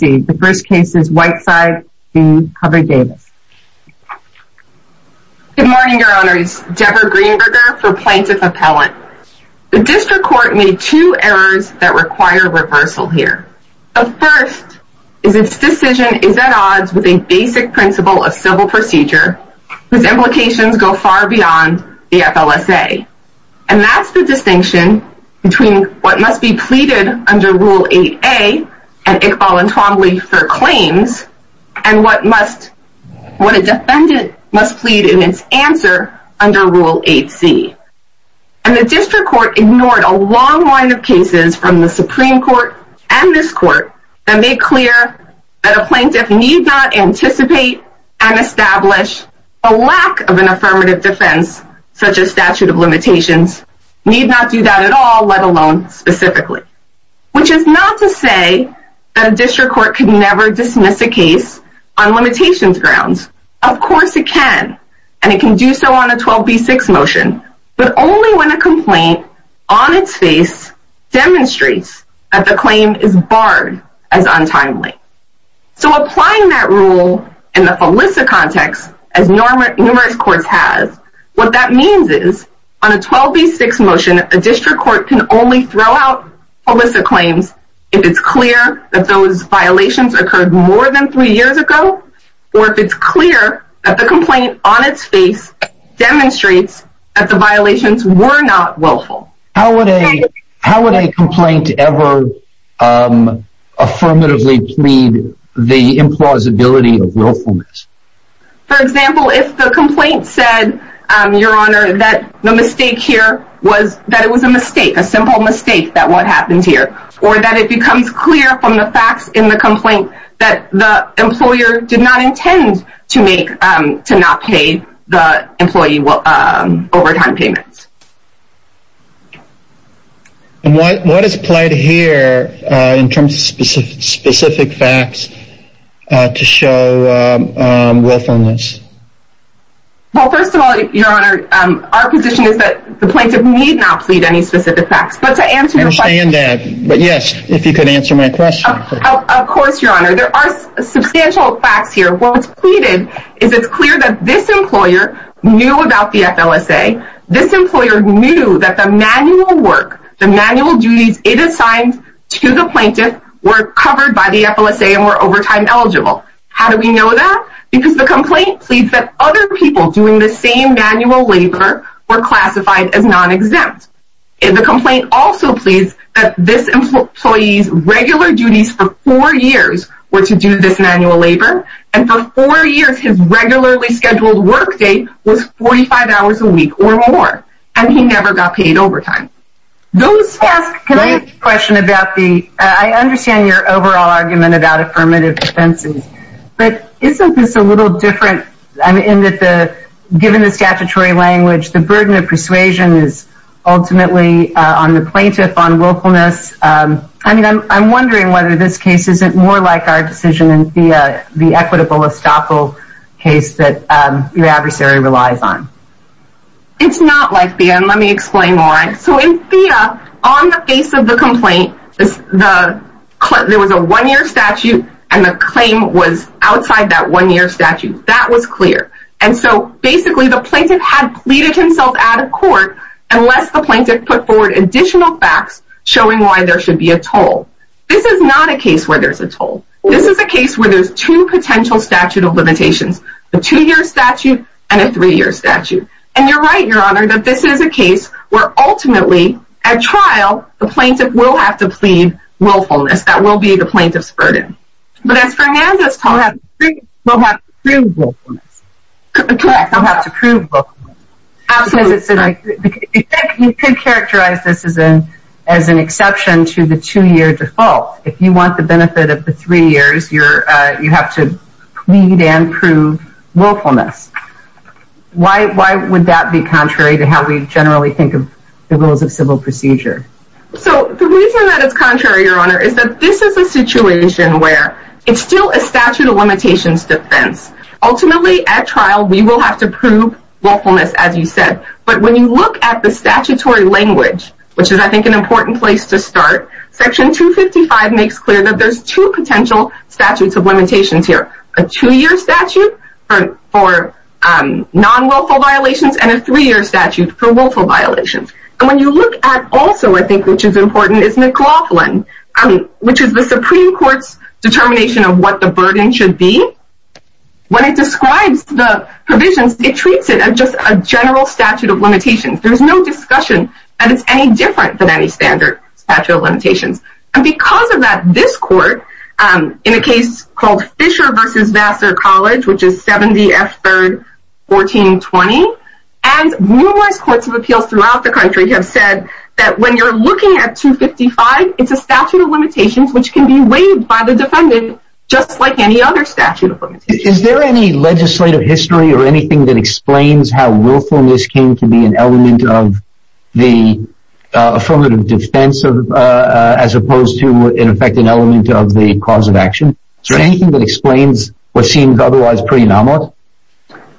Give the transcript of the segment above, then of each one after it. Good morning, Your Honors, Deborah Greenberger for Plaintiff Appellant. The District Court made two errors that require reversal here. The first is its decision is at odds with a basic principle of civil procedure whose implications go far beyond the FLSA, and that's the distinction between what must be pleaded in under Rule 8a and Iqbal and Twombly for claims, and what a defendant must plead in its answer under Rule 8c, and the District Court ignored a long line of cases from the Supreme Court and this Court that made clear that a plaintiff need not anticipate and establish a lack of an affirmative defense such as statute of limitations, need not do that at all, let alone specifically. Which is not to say that a District Court can never dismiss a case on limitations grounds. Of course it can, and it can do so on a 12b6 motion, but only when a complaint on its face demonstrates that the claim is barred as untimely. So applying that rule in the FLSA context, as numerous courts have, what that means is on a 12b6 motion, a District Court can only throw out FLSA claims if it's clear that those violations occurred more than three years ago, or if it's clear that the complaint on its face demonstrates that the violations were not willful. How would a complaint ever affirmatively plead the implausibility of willfulness? For example, if the complaint said, Your Honor, that the mistake here was, that it was a mistake, a simple mistake, that what happened here, or that it becomes clear from the facts in the complaint that the employer did not intend to make, to not pay the employee overtime payments. And what is plaid here in terms of specific facts to show willfulness? Well, first of all, Your Honor, our position is that the plaintiff need not plead any specific facts, but to answer your question. I understand that, but yes, if you could answer my question. Of course, Your Honor. There are substantial facts here. What's pleaded is it's clear that this employer knew about the FLSA. This employer knew that the manual work, the manual duties it assigned to the plaintiff were covered by the FLSA and were overtime eligible. How do we know that? Because the complaint pleads that other people doing the same manual labor were classified as non-exempt. The complaint also pleads that this employee's regular duties for four years were to do this On four years, his regularly scheduled work day was 45 hours a week or more, and he never got paid overtime. Can I ask a question about the, I understand your overall argument about affirmative defense, but isn't this a little different in that given the statutory language, the burden of persuasion is ultimately on the plaintiff on willfulness. I'm wondering whether this case isn't more like our decision in Thea, the equitable estoppel case that your adversary relies on. It's not like Thea, and let me explain why. So in Thea, on the face of the complaint, there was a one-year statute and the claim was outside that one-year statute. That was clear. And so basically, the plaintiff had pleaded himself out of court unless the plaintiff put forward additional facts showing why there should be a toll. This is not a case where there's a toll. This is a case where there's two potential statute of limitations, a two-year statute and a three-year statute. And you're right, your honor, that this is a case where ultimately, at trial, the plaintiff will have to plead willfulness. That will be the plaintiff's burden. But as Fernandez told us, he will have to prove willfulness. Correct. He'll have to prove willfulness. You could characterize this as an exception to the two-year default. If you want the benefit of the three years, you have to plead and prove willfulness. Why would that be contrary to how we generally think of the rules of civil procedure? So the reason that it's contrary, your honor, is that this is a situation where it's still a statute of limitations defense. Ultimately, at trial, we will have to prove willfulness, as you said. But when you look at the statutory language, which is, I think, an important place to start, Section 255 makes clear that there's two potential statutes of limitations here. A two-year statute for non-willful violations and a three-year statute for willful violations. And when you look at also, I think, which is important, is McLaughlin, which is the When it describes the provisions, it treats it as just a general statute of limitations. There's no discussion that it's any different than any standard statute of limitations. And because of that, this court, in a case called Fisher v. Vassar College, which is 70 F. 3rd, 1420, and numerous courts of appeals throughout the country have said that when you're looking at 255, it's a statute of limitations which can be waived by the defendant, just like any other statute of limitations. Is there any legislative history or anything that explains how willfulness came to be an element of the affirmative defense as opposed to, in effect, an element of the cause of action? Is there anything that explains what seems otherwise pretty anomalous?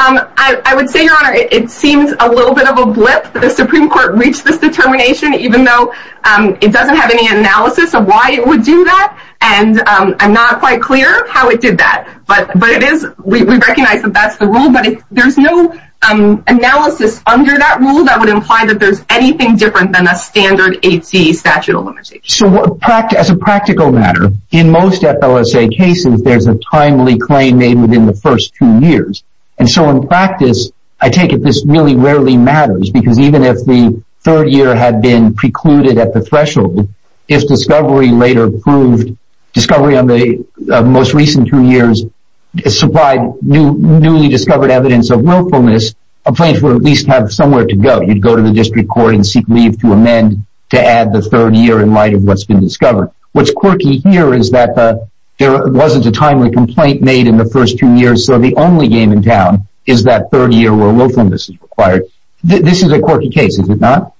I would say, your honor, it seems a little bit of a blip. The Supreme Court reached this determination, even though it doesn't have any analysis of why it would do that. And I'm not quite clear how it did that. But we recognize that that's the rule. But there's no analysis under that rule that would imply that there's anything different than a standard 8c statute of limitations. So, as a practical matter, in most FLSA cases, there's a timely claim made within the first two years. And so, in practice, I take it this really rarely matters, because even if the third year had been precluded at the threshold, if discovery later proved discovery on the most recent two years supplied newly discovered evidence of willfulness, a plaintiff would at least have somewhere to go. You'd go to the district court and seek leave to amend to add the third year in light of what's been discovered. What's quirky here is that there wasn't a timely complaint made in the first two years, so the only game in town is that third year where willfulness is required. This is a quirky case, is it not?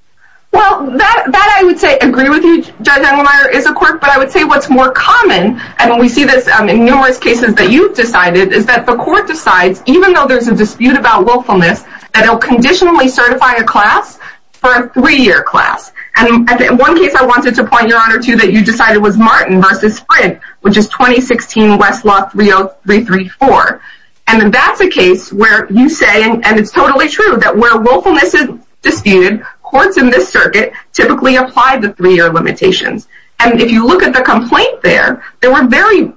Well, that I would say, I agree with you, Judge Engelmeyer, is a quirk. But I would say what's more common, and we see this in numerous cases that you've decided, is that the court decides, even though there's a dispute about willfulness, that it'll conditionally certify a class for a three-year class. And one case I wanted to point your honor to that you decided was Martin v. Sprint, which is 2016 Westlaw 30334. And that's a case where you say, and it's totally true, that where willfulness is disputed, courts in this circuit typically apply the three-year limitations. And if you look at the complaint there, there were very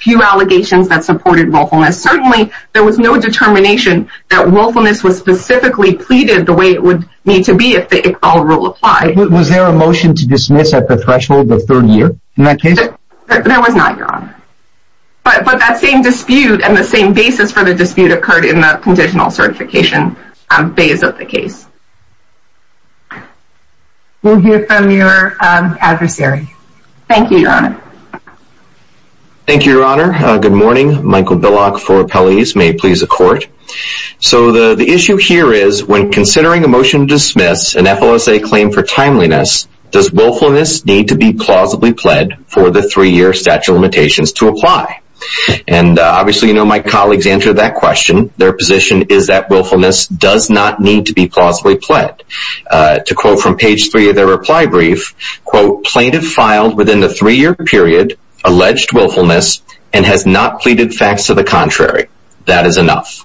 few allegations that supported willfulness. Certainly, there was no determination that willfulness was specifically pleaded the way it would need to be if the Iqbal rule applied. Was there a motion to dismiss at the threshold of third year in that case? There was not, your honor. But that same dispute and the same basis for the dispute occurred in the conditional certification phase of the case. We'll hear from your adversary. Thank you, your honor. Thank you, your honor. Good morning. Michael Billock for Appellees. May it please the court. So the issue here is, when considering a motion to dismiss an FLSA claim for timeliness, does willfulness need to be plausibly pled for the three-year statute of limitations to apply? And obviously, you know, my colleagues answered that question. Their position is that willfulness does not need to be plausibly pled. To quote from page three of their reply brief, quote, plaintiff filed within the three-year period alleged willfulness and has not pleaded facts to the contrary. That is enough.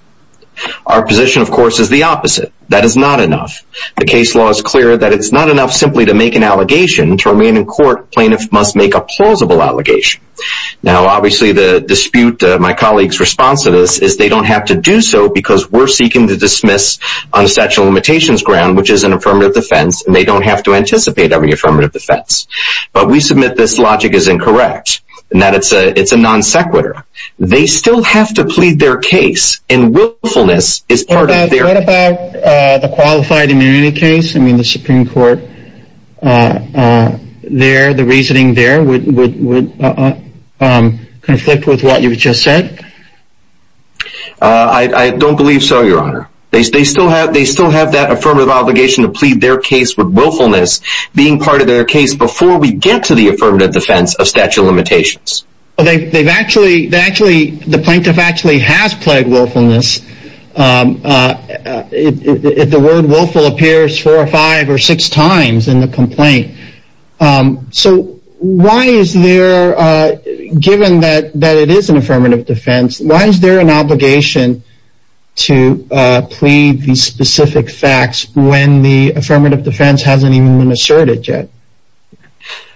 Our position, of course, is the opposite. That is not enough. The case law is clear that it's not enough simply to make an allegation. To remain in court, plaintiff must make a plausible allegation. Now, obviously, the dispute, my colleagues' response to this, is they don't have to do so because we're seeking to dismiss on a sexual limitations ground, which is an affirmative defense, and they don't have to anticipate having an affirmative defense. But we submit this logic is incorrect and that it's a non sequitur. They still have to plead their case, and willfulness is part of their case. What about the qualified immunity case? I mean, the Supreme Court there, the reasoning there would conflict with what you've just said? I don't believe so, Your Honor. They still have that affirmative obligation to plead their case with willfulness being part of their case before we get to the affirmative defense of statute of limitations. They've actually, the plaintiff actually has pled willfulness. The word willful appears four or five or six times in the complaint. So why is there, given that it is an affirmative defense, why is there an obligation to plead these specific facts when the affirmative defense hasn't even been asserted yet?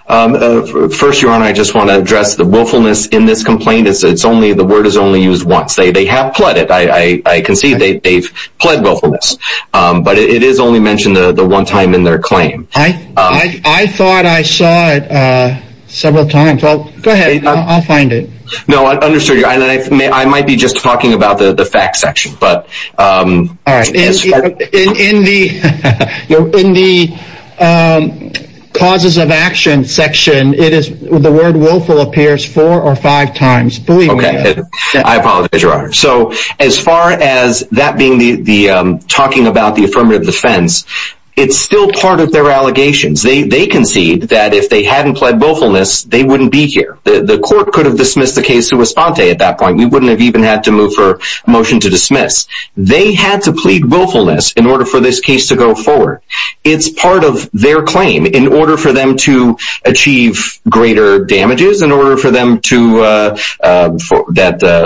First, Your Honor, I just want to address the willfulness in this complaint. The word is only used once. They have pled it. I can see they've pled willfulness. But it is only mentioned the one time in their claim. I thought I saw it several times. Go ahead. I'll find it. No, I understood you. I might be just talking about the facts section. In the causes of action section, the word willful appears four or five times. I apologize, Your Honor. So as far as that being the talking about the affirmative defense, it's still part of their allegations. They concede that if they hadn't pled willfulness, they wouldn't be here. The court could have dismissed the case to respond to at that point. We wouldn't have even had to move for a motion to dismiss. They had to plead willfulness in order for this case to go forward. It's part of their claim. In order for them to achieve greater damages, in order for them to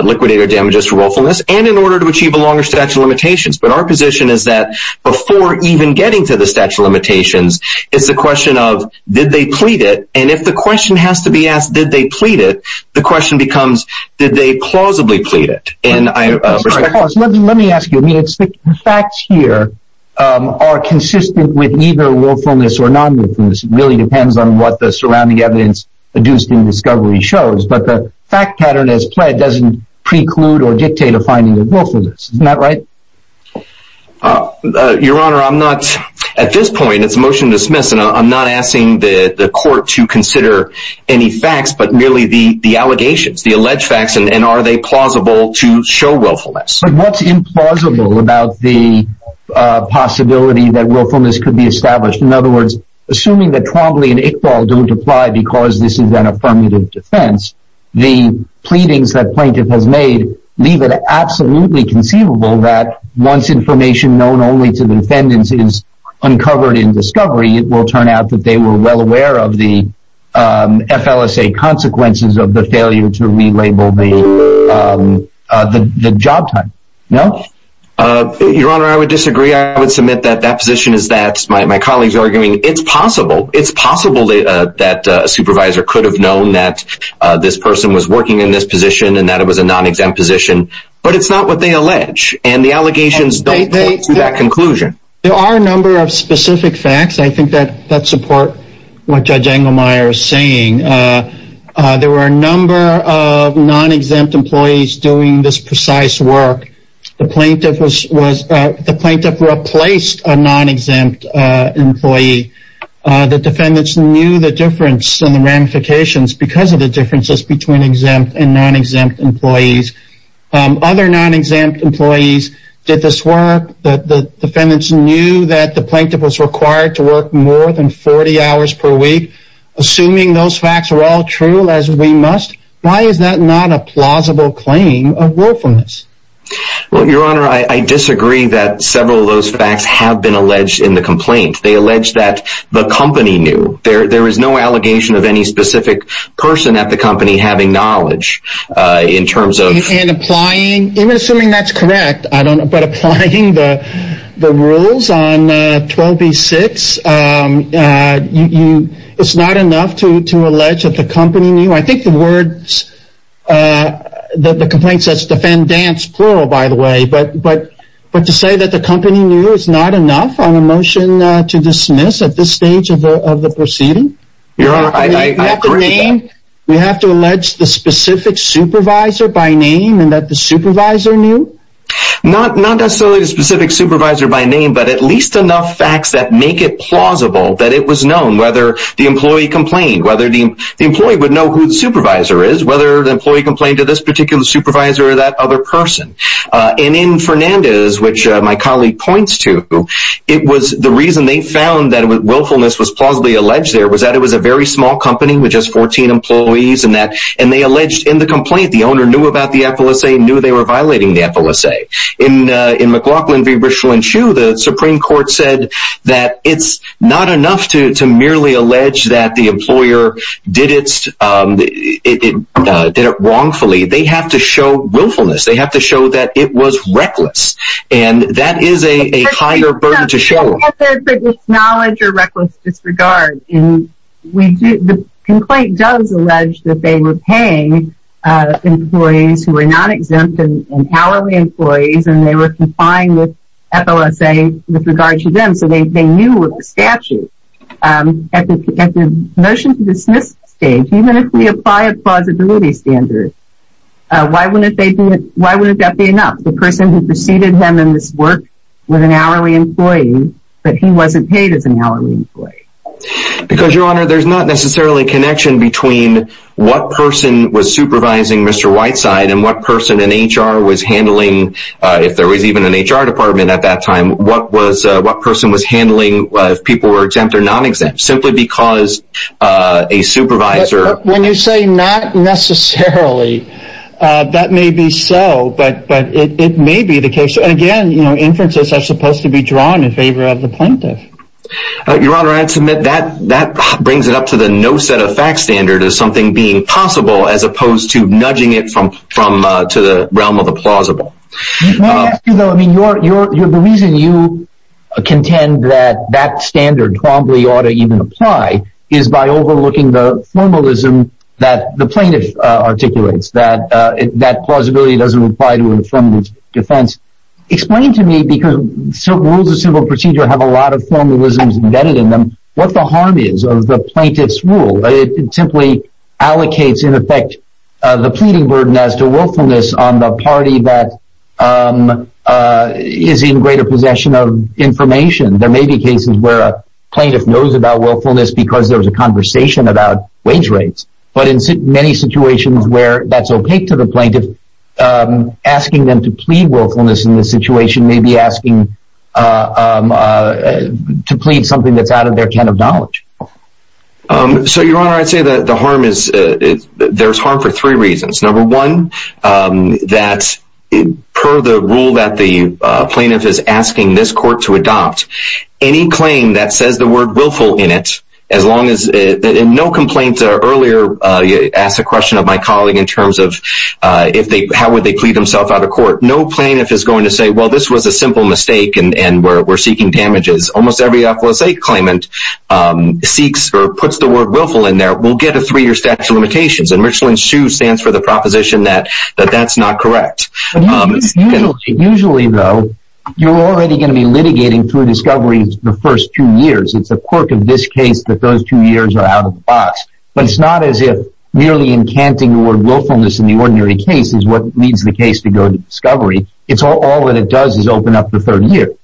liquidate their damages for willfulness, and in order to achieve a longer statute of limitations. But our position is that before even getting to the statute of limitations, it's a question of did they plead it. And if the question has to be asked did they plead it, the question becomes did they plausibly plead it. Let me ask you. The facts here are consistent with either willfulness or non-willfulness. It really depends on what the surrounding evidence produced in discovery shows. But the fact pattern as pled doesn't preclude or dictate a finding of willfulness. Isn't that right? Your Honor, at this point it's a motion to dismiss. I'm not asking the court to consider any facts, but merely the allegations, the alleged facts, and are they plausible to show willfulness. But what's implausible about the possibility that willfulness could be established? In other words, assuming that Twombly and Iqbal don't apply because this is an affirmative defense, the pleadings that plaintiff has made leave it absolutely conceivable that once information known only to the defendants is uncovered in discovery, it will turn out that they were well aware of the FLSA consequences of the failure to relabel the job type. No? Your Honor, I would disagree. I would submit that that position is that my colleagues are arguing it's possible. It's possible that a supervisor could have known that this person was working in this position and that it was a non-exempt position. But it's not what they allege, and the allegations don't point to that conclusion. There are a number of specific facts. I think that supports what Judge Engelmeyer is saying. There were a number of non-exempt employees doing this precise work. The plaintiff replaced a non-exempt employee. The defendants knew the difference and the ramifications because of the differences between exempt and non-exempt employees. Other non-exempt employees did this work. The defendants knew that the plaintiff was required to work more than 40 hours per week. Assuming those facts were all true, as we must, why is that not a plausible claim of willfulness? Well, Your Honor, I disagree that several of those facts have been alleged in the complaint. They allege that the company knew. There is no allegation of any specific person at the company having knowledge in terms of... Even assuming that's correct, but applying the rules on 12b-6, it's not enough to allege that the company knew. I think the complaint says defendants, plural, by the way. But to say that the company knew is not enough on a motion to dismiss at this stage of the proceeding? We have to allege the specific supervisor by name and that the supervisor knew? Not necessarily the specific supervisor by name, but at least enough facts that make it plausible that it was known. Whether the employee complained, whether the employee would know who the supervisor is, whether the employee complained to this particular supervisor or that other person. And in Fernandez, which my colleague points to, the reason they found that willfulness was plausibly alleged there was that it was a very small company with just 14 employees. And they alleged in the complaint the owner knew about the FLSA, knew they were violating the FLSA. In McLaughlin v. Richland Shoe, the Supreme Court said that it's not enough to merely allege that the employer did it wrongfully. They have to show willfulness. They have to show that it was reckless. And that is a higher burden to show. It's not there for disknowledge or reckless disregard. The complaint does allege that they were paying employees who were not exempt and hourly employees and they were complying with FLSA with regard to them, so they knew of the statute. At the motion to dismiss stage, even if we apply a plausibility standard, why wouldn't that be enough? The person who preceded him in this work was an hourly employee, but he wasn't paid as an hourly employee. Because, Your Honor, there's not necessarily a connection between what person was supervising Mr. Whiteside and what person in HR was handling, if there was even an HR department at that time, what person was handling if people were exempt or non-exempt, simply because a supervisor... When you say not necessarily, that may be so, but it may be the case. Again, inferences are supposed to be drawn in favor of the plaintiff. Your Honor, I'd submit that brings it up to the no set of facts standard as something being possible as opposed to nudging it to the realm of the plausible. May I ask you, though, the reason you contend that that standard probably ought to even apply is by overlooking the formalism that the plaintiff articulates, that that plausibility doesn't apply to infirmary defense. Explain to me, because rules of civil procedure have a lot of formalisms embedded in them, what the harm is of the plaintiff's rule. It simply allocates, in effect, the pleading burden as to willfulness on the party that is in greater possession of information. There may be cases where a plaintiff knows about willfulness because there was a conversation about wage rates, but in many situations where that's opaque to the plaintiff, asking them to plead willfulness in this situation may be asking to plead something that's out of their can of knowledge. Your Honor, I'd say there's harm for three reasons. Number one, that per the rule that the plaintiff is asking this court to adopt, any claim that says the word willful in it, as long as no complaints are earlier, you asked a question of my colleague in terms of how would they plead themselves out of court. No plaintiff is going to say, well, this was a simple mistake and we're seeking damages. Almost every FLSA claimant seeks or puts the word willful in there will get a three-year statute of limitations. Richland SHU stands for the proposition that that's not correct. Usually, though, you're already going to be litigating through discovery the first two years. It's a quirk of this case that those two years are out of the box, but it's not as if merely incanting the word willfulness in the ordinary case is what leads the case to go to discovery. All that it does is open up the third year.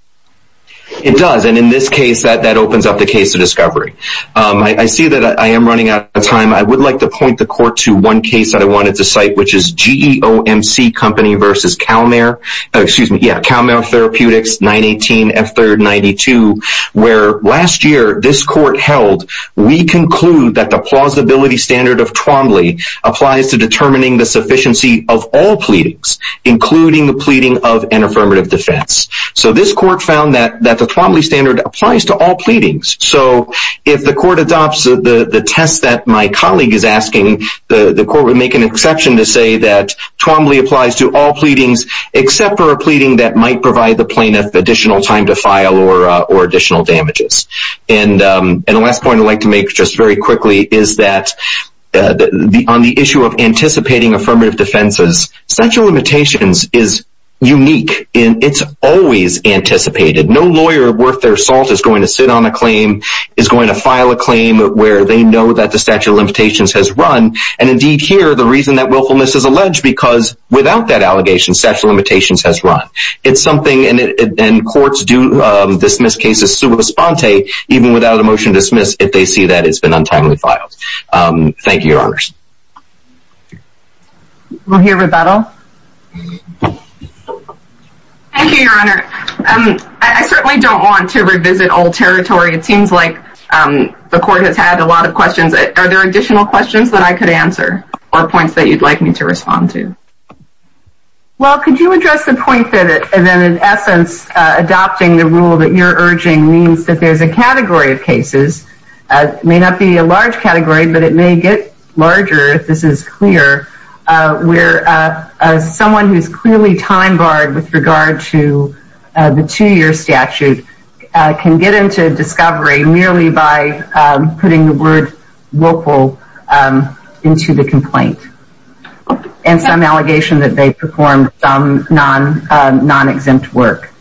It does, and in this case, that opens up the case of discovery. I see that I am running out of time. I would like to point the court to one case that I wanted to cite, which is GEOMC Company versus CalMare. Excuse me. Yeah, CalMare Therapeutics, 918 F3rd 92, where last year this court held, we conclude that the plausibility standard of Twombly applies to determining the sufficiency of all pleadings, including the pleading of an affirmative defense. So this court found that the Twombly standard applies to all pleadings. So if the court adopts the test that my colleague is asking, the court would make an exception to say that Twombly applies to all pleadings, except for a pleading that might provide the plaintiff additional time to file or additional damages. And the last point I'd like to make just very quickly is that on the issue of anticipating affirmative defenses, statute of limitations is unique in it's always anticipated. No lawyer worth their salt is going to sit on a claim, is going to file a claim, where they know that the statute of limitations has run. And indeed here, the reason that willfulness is alleged, because without that allegation, statute of limitations has run. It's something, and courts do dismiss cases sua sponte, even without a motion to dismiss, if they see that it's been untimely filed. Thank you, your honors. We'll hear rebuttal. Thank you, your honor. I certainly don't want to revisit old territory. It seems like the court has had a lot of questions. Are there additional questions that I could answer, or points that you'd like me to respond to? Well, could you address the point that in essence adopting the rule that you're urging means that there's a category of cases. It may not be a large category, but it may get larger if this is clear. Where someone who's clearly time barred with regard to the two-year statute can get into discovery merely by putting the word willful into the complaint. And some allegation that they performed some non-exempt work.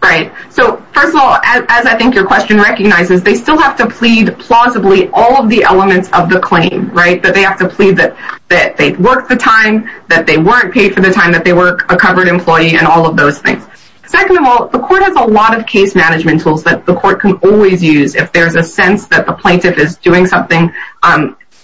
Right. So, first of all, as I think your question recognizes, they still have to plead plausibly all of the elements of the claim. Right. That they have to plead that they worked the time, that they weren't paid for the time, that they were a covered employee, and all of those things. Second of all, the court has a lot of case management tools that the court can always use if there's a sense that the plaintiff is doing something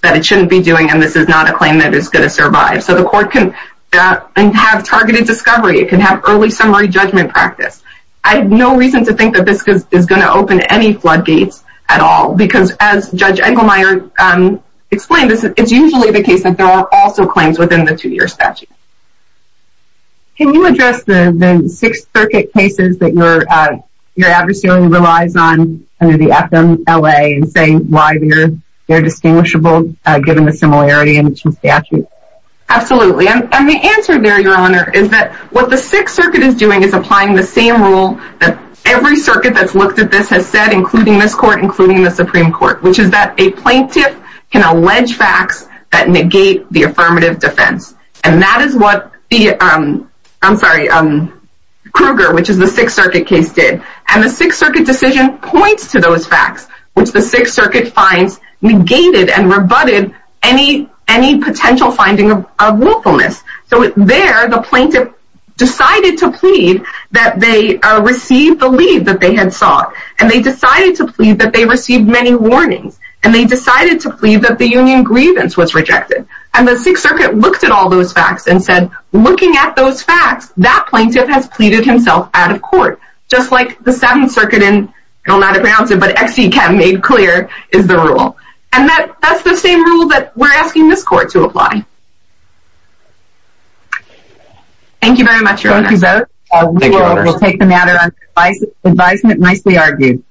that it shouldn't be doing and this is not a claim that is going to survive. So the court can have targeted discovery. It can have early summary judgment practice. I have no reason to think that this is going to open any floodgates at all. Because as Judge Engelmeyer explained, it's usually the case that there are also claims within the two-year statute. Can you address the Sixth Circuit cases that your adversary relies on under the FMLA and say why they're distinguishable given the similarity in statute? Absolutely. And the answer there, Your Honor, is that what the Sixth Circuit is doing is applying the same rule that every circuit that's looked at this has said, including this court, including the Supreme Court, which is that a plaintiff can allege facts that negate the affirmative defense. And that is what the, I'm sorry, Kruger, which is the Sixth Circuit case, did. And the Sixth Circuit decision points to those facts, which the Sixth Circuit finds negated and rebutted any potential finding of willfulness. So there, the plaintiff decided to plead that they received the leave that they had sought. And they decided to plead that they received many warnings. And they decided to plead that the union grievance was rejected. And the Sixth Circuit looked at all those facts and said, looking at those facts, that plaintiff has pleaded himself out of court. Just like the Seventh Circuit in, I don't know how to pronounce it, but Exe Chem made clear is the rule. And that's the same rule that we're asking this court to apply. Thank you very much, Your Honor. Thank you both. Thank you, Your Honor. We'll take the matter on advisement nicely argued.